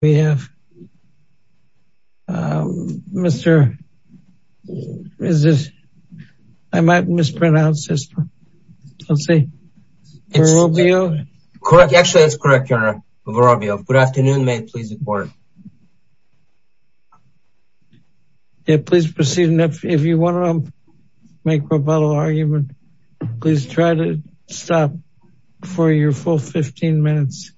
we have uh Mr is this I might mispronounce this one let's see it's correct actually it's correct your honor good afternoon may it please the court yeah please proceed and if you want to make rebuttal argument please try to stop for your full 15 minutes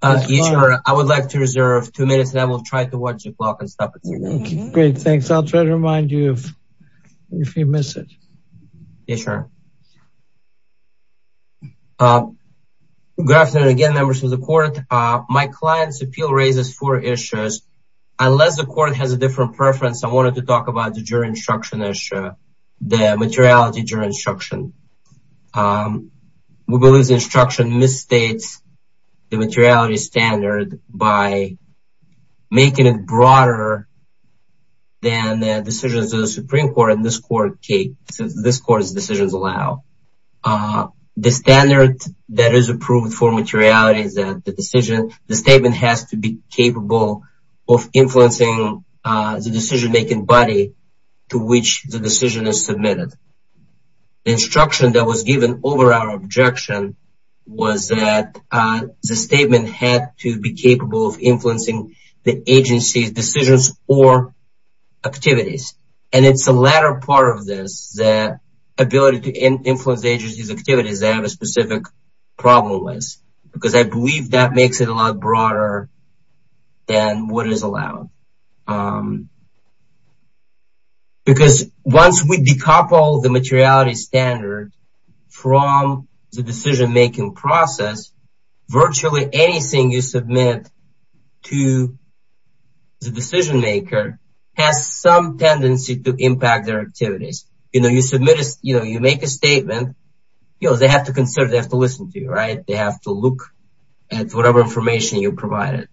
uh each I would like to reserve two minutes and I will try to watch the clock and stop it okay great thanks I'll try to remind you if you miss it yeah sure uh good afternoon again members of the court uh my client's appeal raises four issues unless the court has a different preference I wanted to talk about the jury instruction issue the materiality jury instruction um we believe this instruction misstates the materiality standard by making it broader than the decisions of the supreme court in this court case this court's decisions allow uh the standard that is approved for materiality is that the decision the statement has to be capable of influencing uh the decision-making body to which the decision is submitted the instruction that was given over our objection was that uh the statement had to be capable of influencing the agency's decisions or activities and it's the latter part of this the ability to influence the agency's activities they have a specific problem with because I believe that makes it a lot from the decision-making process virtually anything you submit to the decision maker has some tendency to impact their activities you know you submit a you know you make a statement you know they have to consider they have to listen to you right they have to look at whatever information you provided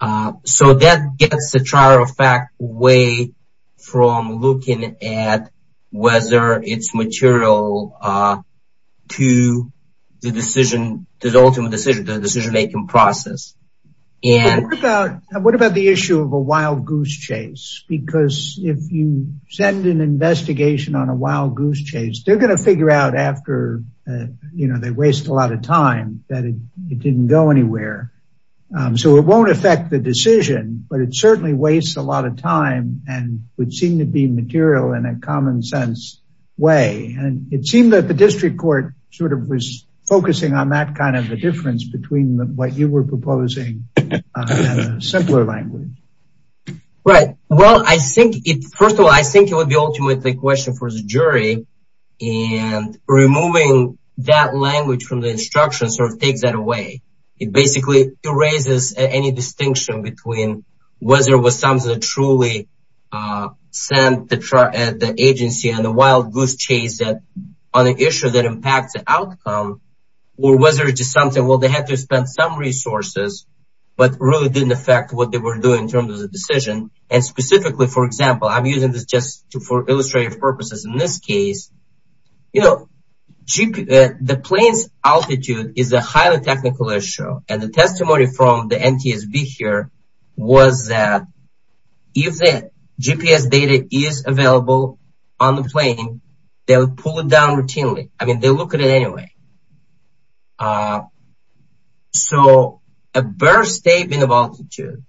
uh so that gets the trial of fact away from looking at whether it's material uh to the decision the ultimate decision the decision-making process and what about the issue of a wild goose chase because if you send an investigation on a wild goose chase they're going to figure out after you know they waste a lot of time that it didn't go anywhere so it won't affect the decision but it certainly wastes a lot of time and would seem to be material in a common sense way and it seemed that the district court sort of was focusing on that kind of a difference between what you were proposing and a simpler language right well I think it first of all I think it would be ultimately a question for the jury and removing that language from the instruction sort of takes that away it basically erases any distinction between whether it was something that truly uh sent the agency and the wild goose chase that on an issue that impacts the outcome or whether it's just something well they had to spend some resources but really didn't affect what they were doing in terms of the decision and specifically for example I'm using this just for illustrative purposes in this case you know the plane's altitude is a highly technical issue and the testimony from the NTSB here was that if the GPS data is available on the plane they'll pull it down routinely I mean they look at it anyway so a birth state in a multitude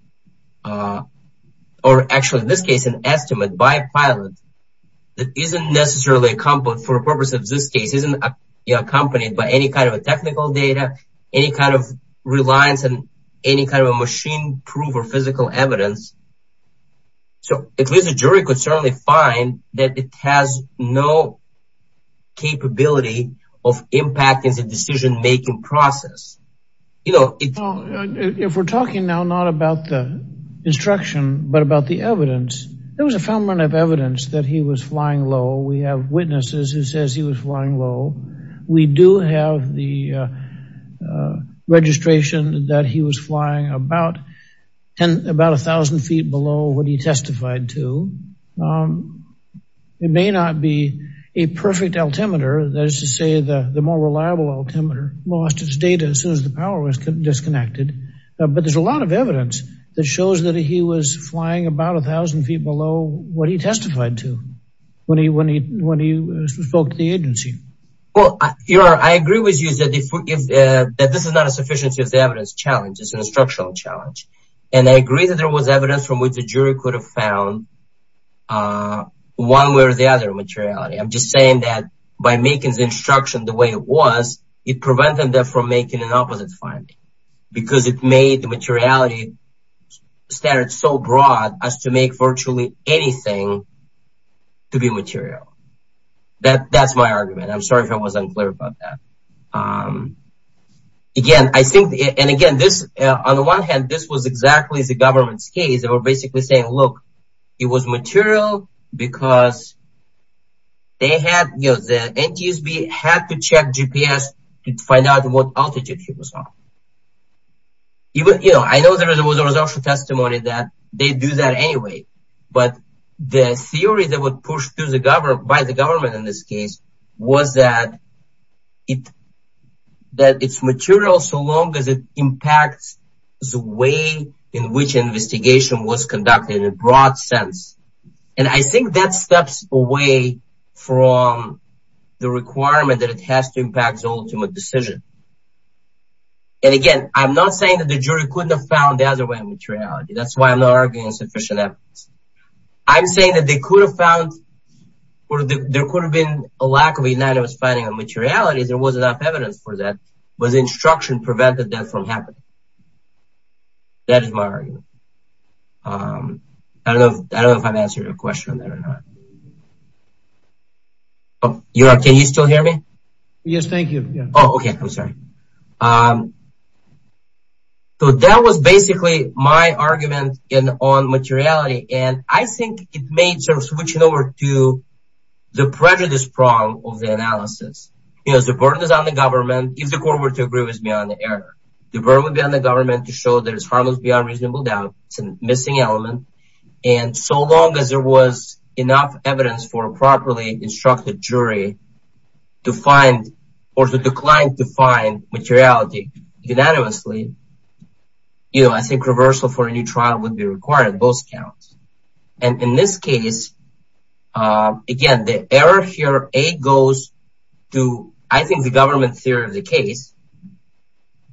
or actually in this case an estimate by a pilot that isn't necessarily accomplished for the purpose of this case isn't accompanied by any kind of technical data any kind of reliance and any kind of a machine proof or physical evidence so at least the jury could certainly find that it has no capability of impacting the decision-making process you know if we're talking now not about the instruction but about the evidence there was a family of evidence that he was flying low we have witnesses who the registration that he was flying about and about a thousand feet below what he testified to it may not be a perfect altimeter that is to say the the more reliable altimeter lost its data as soon as the power was disconnected but there's a lot of evidence that shows that he was flying about a thousand feet below what he testified to when he when he when you spoke to the agency well you know I agree with you that if that this is not a sufficiency of the evidence challenge it's an instructional challenge and I agree that there was evidence from which the jury could have found one where the other materiality I'm just saying that by making the instruction the way it was it prevented them from making an opposite finding because it that that's my argument I'm sorry if I wasn't clear about that again I think and again this on the one hand this was exactly the government's case they were basically saying look it was material because they had you know the NTSB had to check GPS to find out what altitude he was on even you know I know there was a result for testimony that they do that anyway but the theory that would push through the government by the government in this case was that it that it's material so long as it impacts the way in which investigation was conducted in a broad sense and I think that steps away from the requirement that it has to impact the ultimate decision and again I'm not saying that the jury couldn't have found the other way materiality that's why I'm not arguing sufficient evidence I'm saying that they could have found or there could have been a lack of unanimous finding of materiality there was enough evidence for that was instruction prevented that from happening that is my argument I don't know if I'm answering your question or not oh you are can you still hear me yes thank you oh okay I'm sorry so that was basically my argument in on materiality and I think it made sort of switching over to the prejudice prong of the analysis yes the burden is on the government if the court were to agree with me on the error the burden would be on the government to show there's harmless beyond reasonable doubt it's a missing element and so long as there was enough evidence for a properly jury to find or to decline to find materiality unanimously you know I think reversal for a new trial would be required both counts and in this case again the error here a goes to I think the government theory of the case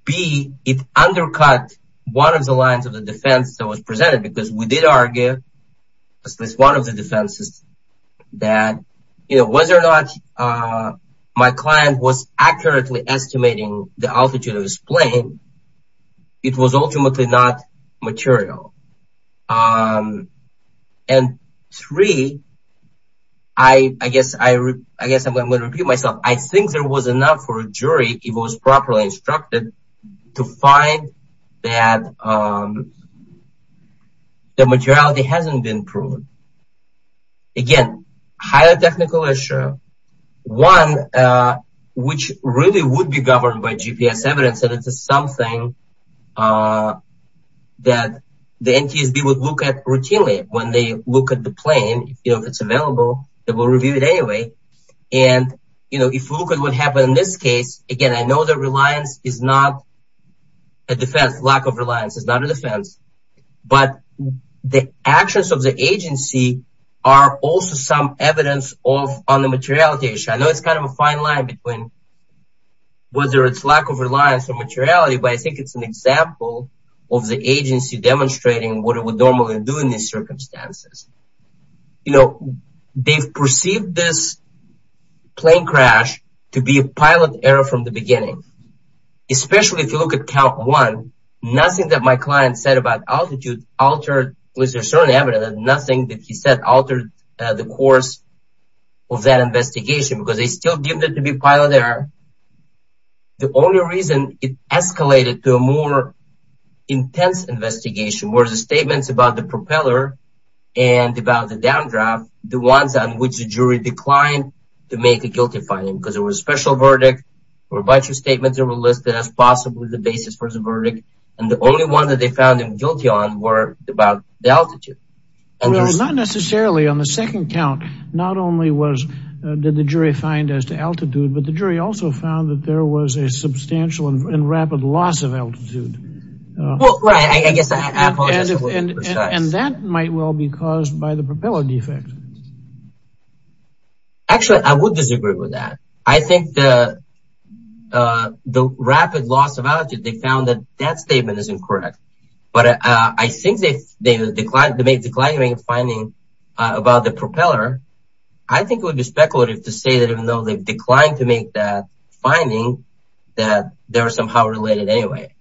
be it undercut one of the lines of the defense that was presented because we did argue as this one of the defenses that you know whether or not my client was accurately estimating the altitude of his plane it was ultimately not material and three I I guess I I guess I'm gonna repeat myself I think there was enough for a jury it was properly instructed to find that the materiality hasn't been proven again higher technical issue one which really would be governed by GPS evidence that it's something that the NTSB would look at routinely when they look at the plane you know if it's available that will review it anyway and you a defense lack of reliance is not a defense but the actions of the agency are also some evidence of on the materiality issue I know it's kind of a fine line between whether it's lack of reliance or materiality but I think it's an example of the agency demonstrating what it would normally do in these circumstances you know they've perceived this plane crash to be a pilot error from the especially if you look at count one nothing that my client said about altitude altered was there certain evidence and nothing that he said altered the course of that investigation because they still deemed it to be pilot error the only reason it escalated to a more intense investigation where the statements about the propeller and about the downdraft the ones on which the jury declined to make a guilty finding because it was special verdict or a bunch of statements that were listed as possibly the basis for the verdict and the only one that they found him guilty on were about the altitude and there's not necessarily on the second count not only was did the jury find as to altitude but the jury also found that there was a substantial and rapid loss of altitude and that might well be caused by the propeller defect actually I would disagree with that I think the rapid loss of altitude they found that that statement is incorrect but I think they declined to make declining finding about the propeller I think it would be speculative to say that even though they've declined to make that finding that they're somehow related anyway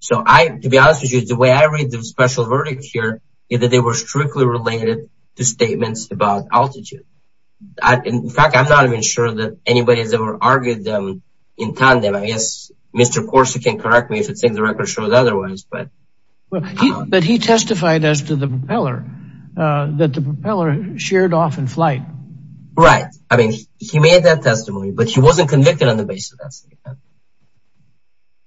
so I to be honest with you the way I read the special verdict here is that they were strictly related to statements about altitude I in fact I'm not even sure that anybody's ever argued them in tandem I guess mr. course you can correct me if it's in the record shows otherwise but well but he testified as to the propeller that the propeller sheared off in flight right I mean he made that testimony but he wasn't convicted on the basis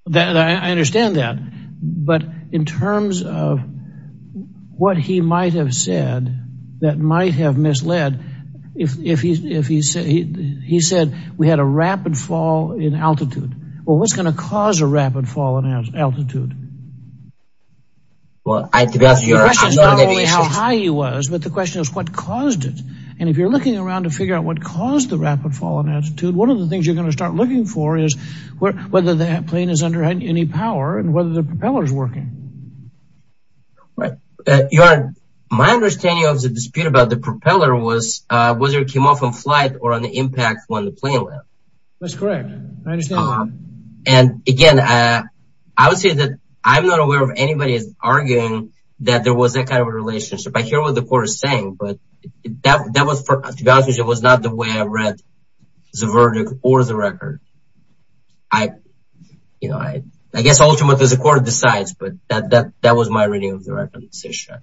that I understand that but in terms of what he might have said that might have misled if he's if he said he said we had a rapid fall in altitude well what's gonna cause a rapid fall in altitude well I think that's how high he was but the question is what caused it and if you're looking around to figure out what caused the rapid fall in altitude one of the things you're gonna start looking for is where whether that plane is under any power and whether the propellers working right you are my understanding of the dispute about the propeller was whether it came off in flight or on the impact when the plane left that's correct and again I would say that I'm not aware of anybody's arguing that there was that kind of relationship I hear what the court is saying but that was for it was not the way I read the verdict or the record I I guess ultimately the court decides but that that was my reading of the record this issue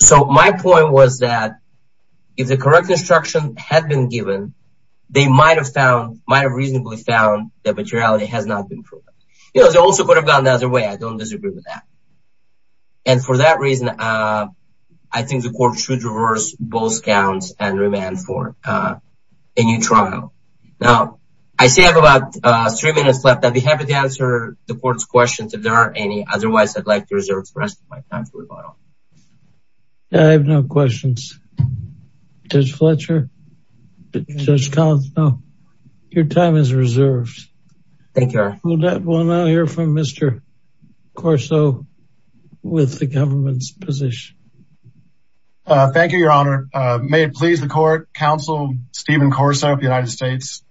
so my point was that if the correct instruction had been given they might have found might have reasonably found that materiality has not been proven you know they also could have gone the other way I don't disagree with that and for that reason I think the court should reverse both counts and remand for a new trial now I say I have about three minutes left I'd be happy to answer the court's questions if there are any otherwise I'd like to reserve the rest of my time for rebuttal. I have no questions. Judge Fletcher, Judge Conso, your time is reserved. Thank you. We'll now hear from Mr. Corso with the government's position. Thank you, Your Honor. May it please the court, Counsel Stephen Corso of the United States.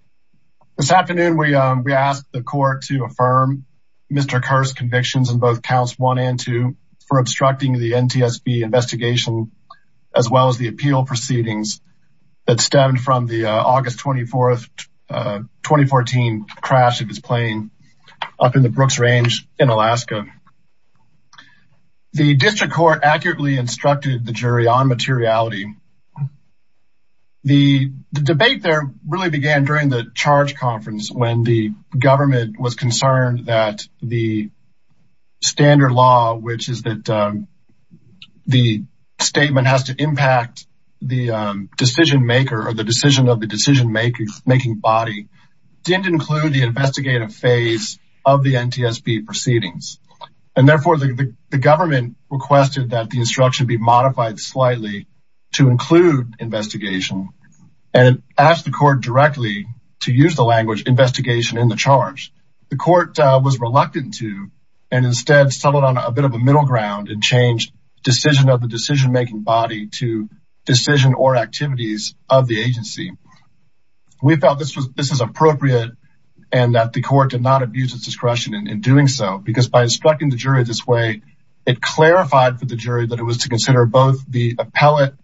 This afternoon we we asked the court to affirm Mr. Kerr's convictions in both counts 1 and 2 for obstructing the NTSB investigation as well as the appeal proceedings that stemmed from the August 24th 2014 crash of his plane up in the Brooks Range in Alaska. The district court accurately instructed the jury on materiality. The debate there really began during the charge conference when the government was concerned that the standard law which is that the statement has to impact the decision maker or the decision of the decision-making body didn't include the investigative phase of the NTSB proceedings and therefore the government requested that the instruction be modified slightly to include investigation and asked the court directly to use the language investigation in the charge. The court was reluctant to and instead settled on a bit of a middle ground and changed decision of the decision-making body to decision or activities of the agency. We felt this was this is appropriate and that the court did not abuse its discretion in doing so because by instructing the jury this way it clarified for the jury that it was to consider both the appellate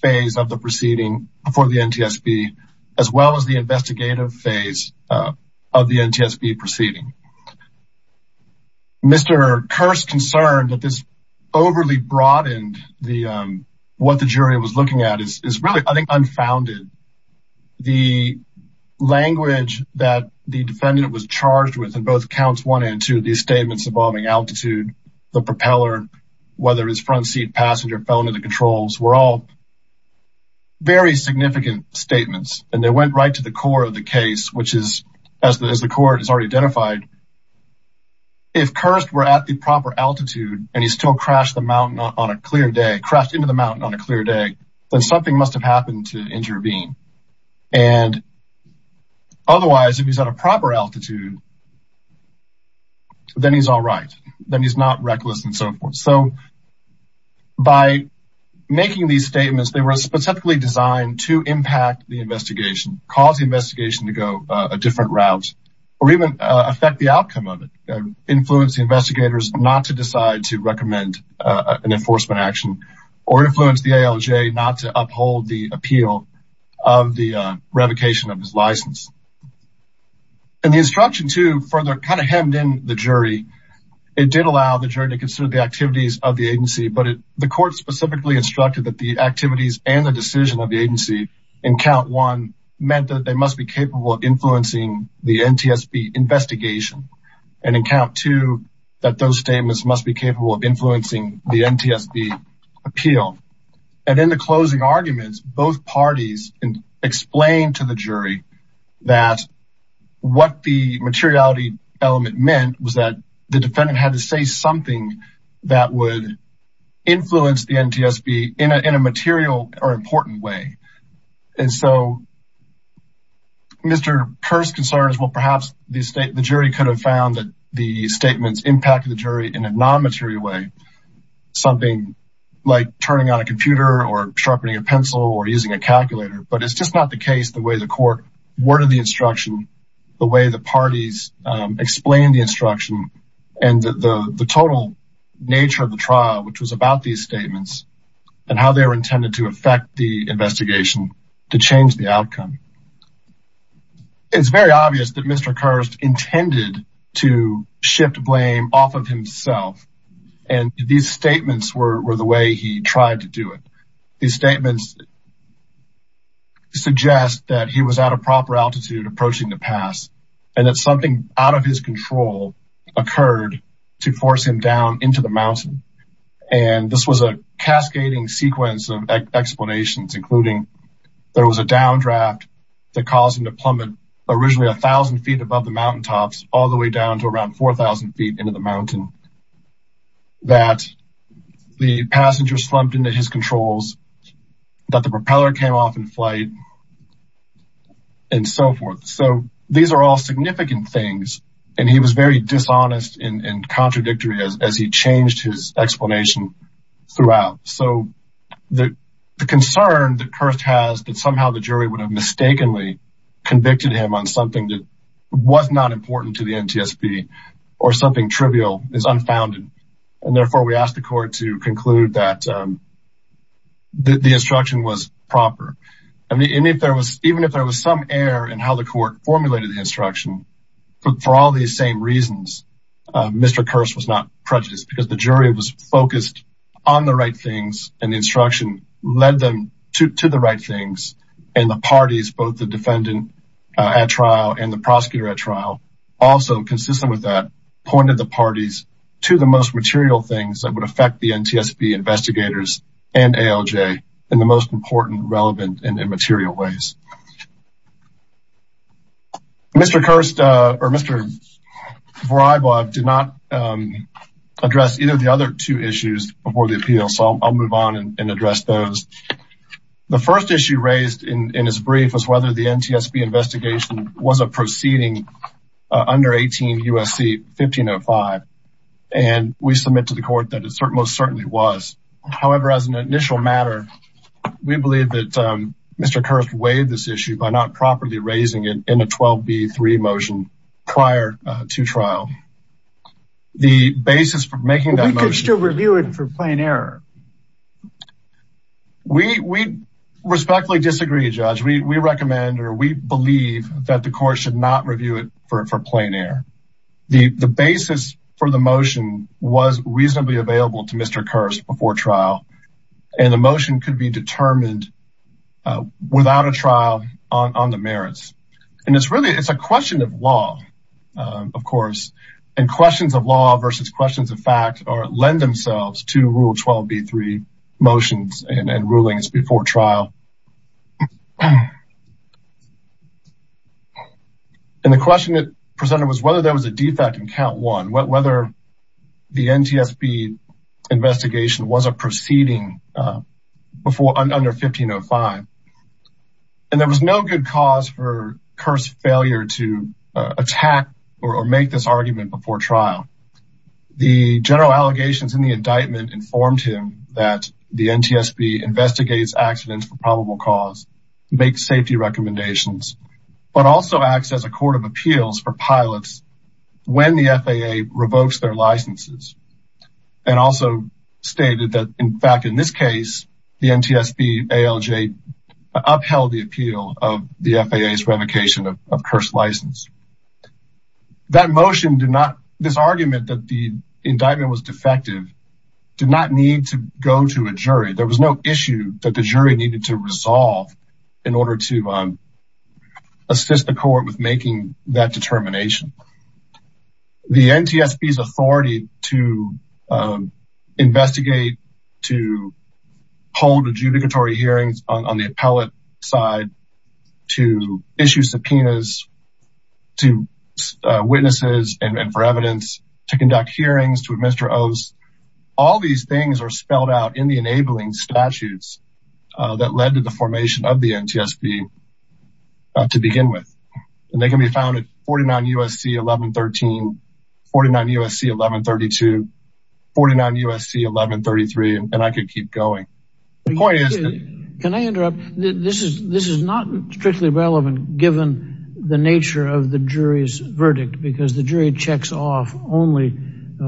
phase of the proceeding before the NTSB as well as the investigative phase of the NTSB proceeding. Mr. Kirst concerned that this overly broadened the what the jury was looking at is really I think unfounded. The language that the defendant was charged with in both counts 1 and 2 these statements involving altitude, the propeller, whether it's front seat passenger fell into the controls were all very significant statements and they went right to the core of the case which is as the court has already identified if Kirst were at the proper altitude and he still crashed the mountain on a clear day crashed into the mountain on a clear day then something must have happened to intervene and otherwise if he's at a proper altitude then he's all right then he's not reckless and so forth so by making these statements they were specifically designed to impact the investigation cause the investigation to go a different route or even affect the outcome of it influence the investigators not to decide to recommend an enforcement action or influence the ALJ not to uphold the appeal of the revocation of his license and the instruction to further kind of hemmed in the jury it did allow the jury to consider the activities of the agency but the court specifically instructed that the activities and the decision of the agency in count one meant that they must be capable of influencing the NTSB investigation and in count two that those statements must be capable of influencing the NTSB appeal and in the that what the materiality element meant was that the defendant had to say something that would influence the NTSB in a material or important way and so Mr. Kirst concerns well perhaps the state the jury could have found that the statements impacted the jury in a non-material way something like turning on a computer or sharpening a pencil or using a calculator but it's just not the case the way the court worded the instruction the way the parties explained the instruction and the the total nature of the trial which was about these statements and how they were intended to affect the investigation to change the outcome it's very obvious that Mr. Kirst intended to shift blame off of himself and these statements were the way he tried to do it these statements suggest that he was at a proper altitude approaching the pass and that something out of his control occurred to force him down into the mountain and this was a cascading sequence of explanations including there was a downdraft that caused him to plummet originally a thousand feet above the mountaintops all the way down to around 4,000 feet into the mountain that the passenger slumped into his controls that the propeller came off in flight and so forth so these are all significant things and he was very dishonest and contradictory as he changed his explanation throughout so the concern that Kirst has that somehow the jury would have mistakenly convicted him on something that was not important to the or something trivial is unfounded and therefore we asked the court to conclude that the instruction was proper I mean if there was even if there was some error in how the court formulated the instruction but for all these same reasons Mr. Kirst was not prejudiced because the jury was focused on the right things and the instruction led them to the right things and parties both the defendant at trial and the prosecutor at trial also consistent with that pointed the parties to the most material things that would affect the NTSB investigators and ALJ in the most important relevant and immaterial ways Mr. Kirst or Mr. Voraybov did not address either the other two issues before the appeal so I'll move on and address those the first issue raised in in his brief was whether the NTSB investigation was a proceeding under 18 U.S.C. 1505 and we submit to the court that it most certainly was however as an initial matter we believe that Mr. Kirst weighed this issue by not properly raising it in a 12b3 motion prior to trial the basis for making that motion we could still review it for plain error we respectfully disagree judge we recommend or we believe that the court should not review it for plain error the the basis for the motion was reasonably available to Mr. Kirst before trial and the motion could be determined without a trial on the merits and it's really it's a question of law of course and questions of law versus questions of fact or lend themselves to rule 12b3 motions and rulings before trial and the question that presented was whether there was a defect in count one whether the NTSB investigation was a proceeding before under 1505 and there was no good cause for informed him that the NTSB investigates accidents for probable cause to make safety recommendations but also acts as a court of appeals for pilots when the FAA revokes their licenses and also stated that in fact in this case the NTSB ALJ upheld the appeal of the FAA's revocation of indictment was defective did not need to go to a jury there was no issue that the jury needed to resolve in order to assist the court with making that determination the NTSB's authority to investigate to hold adjudicatory hearings on the appellate side to issue subpoenas to witnesses and for evidence to conduct hearings to administer oaths all these things are spelled out in the enabling statutes that led to the formation of the NTSB to begin with and they can be found at 49 USC 1113 49 USC 1132 49 USC 1133 and I could keep going the point is can I interrupt this is this is not strictly relevant given the nature of the jury's verdict because the jury checks off only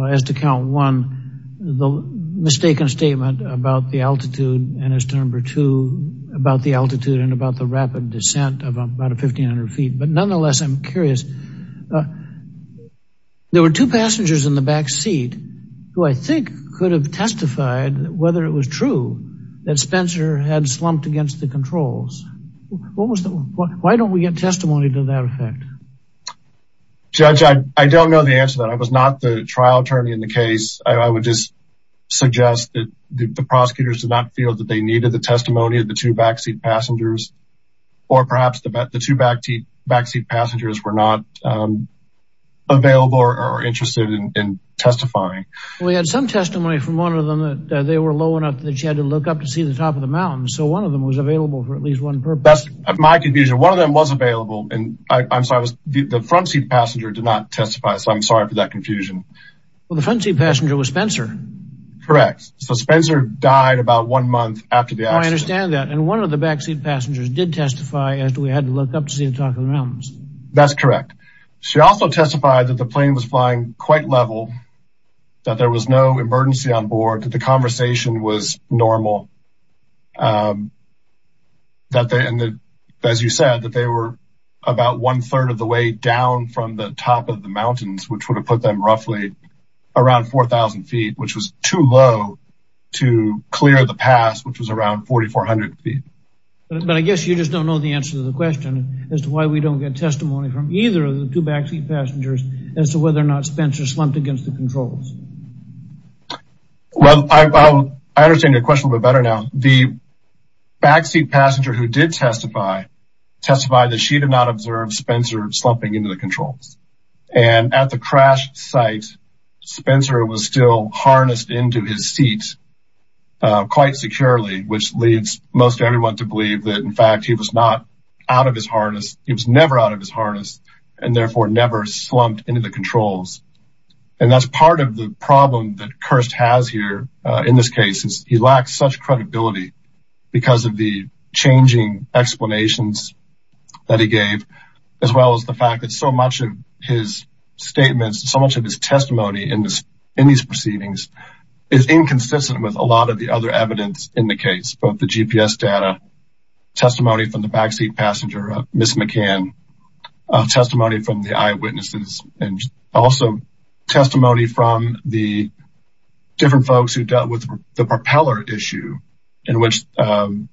as to count one the mistaken statement about the altitude and as to number two about the altitude and about the rapid descent of about a 1500 feet but nonetheless I'm curious there were two passengers in the back seat who I think could have testified whether it was true that Spencer had slumped against the controls what was the why don't we get testimony to that effect judge I don't know the answer that I was not the trial attorney in the case I would just suggest that the prosecutors did not feel that they needed the testimony of the two backseat passengers or perhaps the two backseat passengers were not available or interested in to see the top of the mountains so one of them was available for at least one purpose that's my confusion one of them was available and I'm sorry the front seat passenger did not testify so I'm sorry for that confusion well the front seat passenger was Spencer correct so Spencer died about one month after the I understand that and one of the backseat passengers did testify as to we had to look up to see the top of the mountains that's correct she also testified that the plane was flying quite level that there was no emergency on board that the conversation was normal that they and the as you said that they were about one-third of the way down from the top of the mountains which would have put them roughly around 4,000 feet which was too low to clear the pass which was around 4,400 feet but I guess you just don't know the answer to the question as to why we don't get testimony from either of the two backseat passengers as to whether or not Spencer slumped against the controls well I understand your question a bit better now the backseat passenger who did testify testified that she did not observe Spencer slumping into the controls and at the crash site Spencer was still harnessed into his seat quite securely which leads most everyone to believe that in fact he was not out of his harness he was never out of his harness and therefore never slumped into the controls and that's part of the problem that Kirst has here in this case is he lacks such credibility because of the changing explanations that he gave as well as the fact that so much of his statements so much of his testimony in this in these proceedings is inconsistent with a lot of the other evidence in the case both the GPS data testimony from the testimony from the eyewitnesses and also testimony from the different folks who dealt with the propeller issue in which the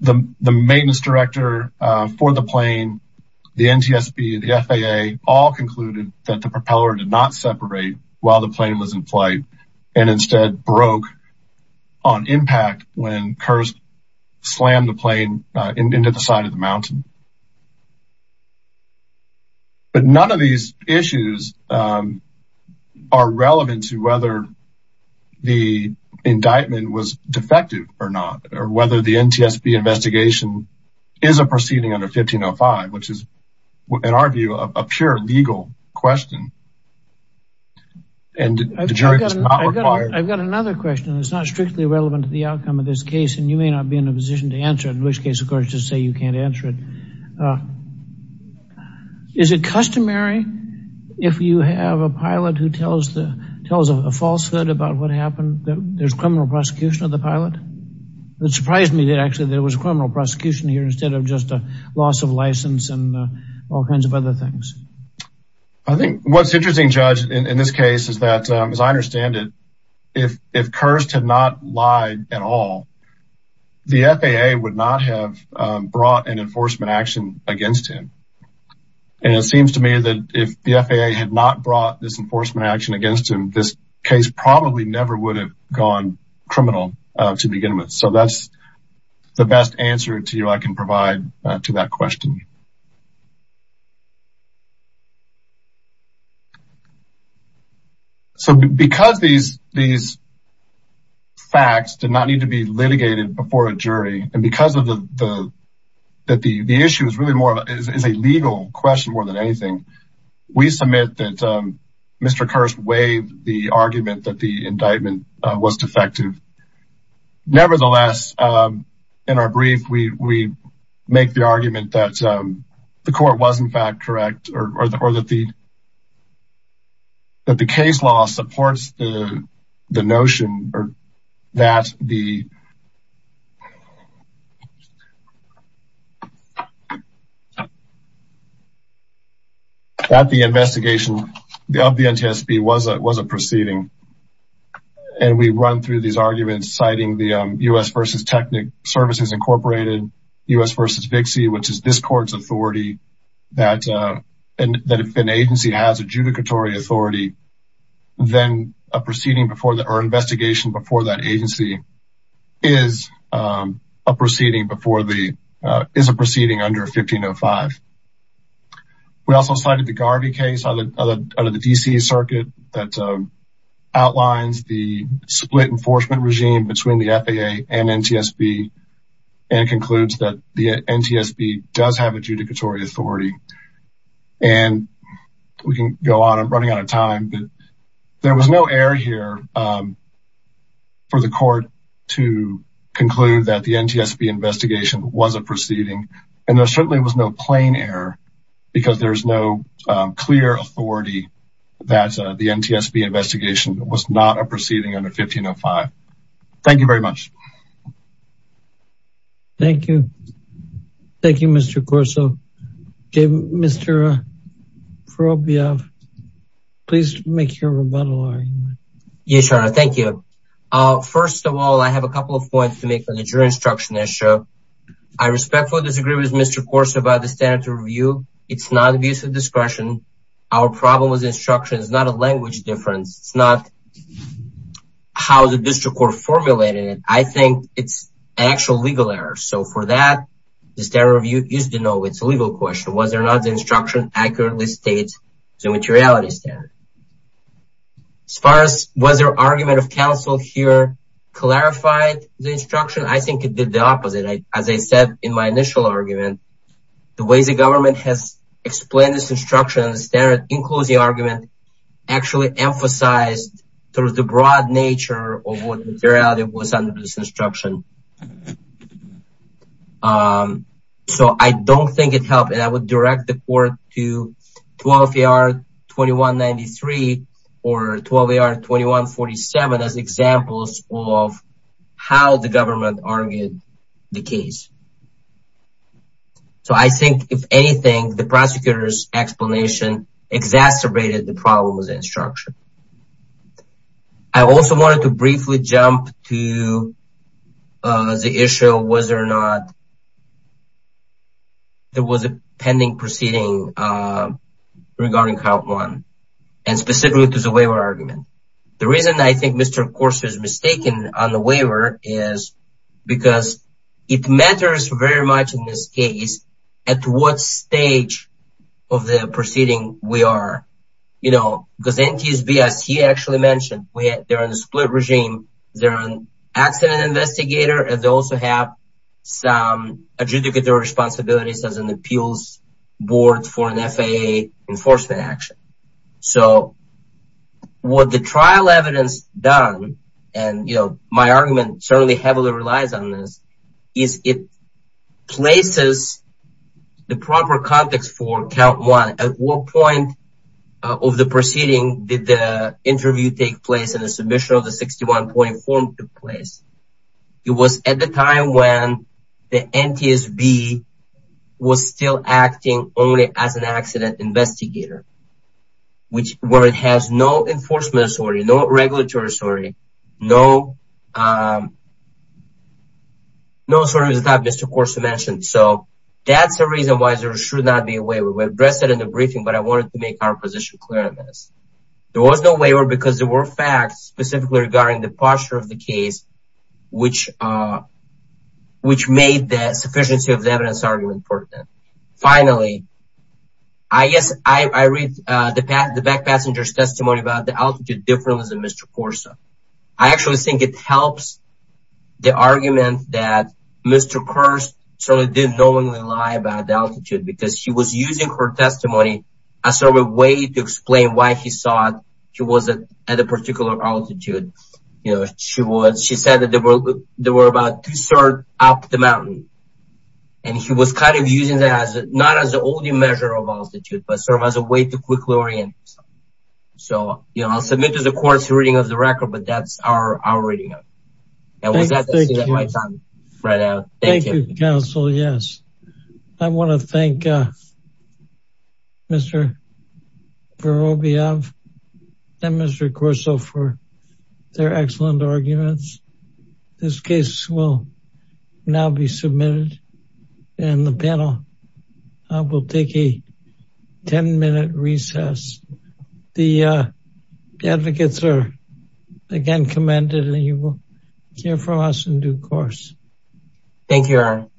maintenance director for the plane the NTSB the FAA all concluded that the propeller did not separate while the plane was in flight and instead broke on impact when Kirst slammed the plane into the side of the mountain but none of these issues are relevant to whether the indictment was defective or not or whether the NTSB investigation is a proceeding under 1505 which is in our view a pure legal question and I've got another question that's not strictly relevant to the outcome of this case and you may not be in a position to answer it in which case of course just say you can't uh is it customary if you have a pilot who tells the tells a falsehood about what happened that there's criminal prosecution of the pilot it surprised me that actually there was criminal prosecution here instead of just a loss of license and all kinds of other things I think what's interesting judge in this case is that as I understand it if if Kirst had not lied at all the FAA would not have brought an enforcement action against him and it seems to me that if the FAA had not brought this enforcement action against him this case probably never would have gone criminal to begin with so that's the best answer to you I can provide to that question um so because these these facts did not need to be litigated before a jury and because of the the that the the issue is really more is a legal question more than anything we submit that um Mr. Kirst waived the argument that the indictment uh was defective nevertheless um in our brief we we make the argument that um the court was in fact correct or that the that the case law supports the the notion or that the that the investigation of the NTSB was a was a proceeding um and we run through these arguments citing the um U.S. versus Technic Services Incorporated U.S. versus VIXI which is this court's authority that uh and that if an agency has adjudicatory authority then a proceeding before the or investigation before that agency is um a proceeding before the uh is a proceeding under 1505. We also cited the Garvey case on the under the D.C. circuit that outlines the split enforcement regime between the FAA and NTSB and concludes that the NTSB does have adjudicatory authority and we can go on I'm running out of time but there was no error here um for the court to conclude that the NTSB investigation was a and there certainly was no plain error because there's no clear authority that the NTSB investigation was not a proceeding under 1505. Thank you very much. Thank you. Thank you Mr. Corso. Mr. Ferrovia, please make your rebuttal argument. Yes, Your Honor. Thank you. Uh first of all I have a couple of points to make on the jury instruction issue. I respectfully disagree with Mr. Corso about the standard to review. It's non-abusive discretion. Our problem with instruction is not a language difference. It's not how the district court formulated it. I think it's an actual legal error so for that the standard review used to know it's a legal question. Was there not the instruction accurately states the materiality standard? As far as was there argument of counsel here clarified the instruction? I think it did the opposite. As I said in my initial argument the way the government has explained this instruction standard includes the argument actually emphasized through the broad nature of what materiality was under this instruction. So I don't think it helped and I would direct the court to 12 AR 2193 or 12 AR 2147 as examples of how the government argued the case. So I think if anything the prosecutor's explanation exacerbated the problem with the instruction. I also wanted to briefly jump to the issue whether or not there was a pending proceeding regarding count one and specifically to the waiver argument. The reason I think Mr. Corso is mistaken on the waiver is because it matters very much in this case at what stage of the proceeding we are. You know because NTSB as he actually mentioned they're in a split regime. They're an accident investigator and they also have some adjudicatory responsibilities as an appeals board for an FAA enforcement action. So what the trial evidence done and you know my argument certainly heavily relies on this is it places the proper context for count one at what point of the proceeding did the interview take place in the submission of the 61 point form took place. It was at the time when the NTSB was still acting only as an accident investigator which where it has no enforcement authority, no regulatory authority, no um no sort of the type Mr. Corso mentioned. So that's the reason why there should not be a waiver. We addressed it in the briefing but I wanted to make our position clear on this. There was no waiver because there were facts specifically regarding the posture of the case which uh which made the sufficiency of the evidence argument important. Finally I guess I I read uh the back the back passenger's testimony about the altitude difference in Mr. Corso. I actually think it helps the argument that Mr. Kerr certainly didn't knowingly lie about the altitude because he was using her testimony as sort of a way to explain why he thought she wasn't at a particular altitude. You know she was she said that there were there were about two third up the mountain and he was kind of using that as not as the only measure of altitude but serve as a way to quickly orient. So you know I'll submit to the court's reading of the record but that's our our reading of it right now. Thank you counsel yes. I want to thank uh Mr. Vorobyov and Mr. Corso for their excellent arguments. This case will now be submitted and the panel will take a 10-minute recess. The uh advocates are again commended and you will hear from us in due course. Thank you.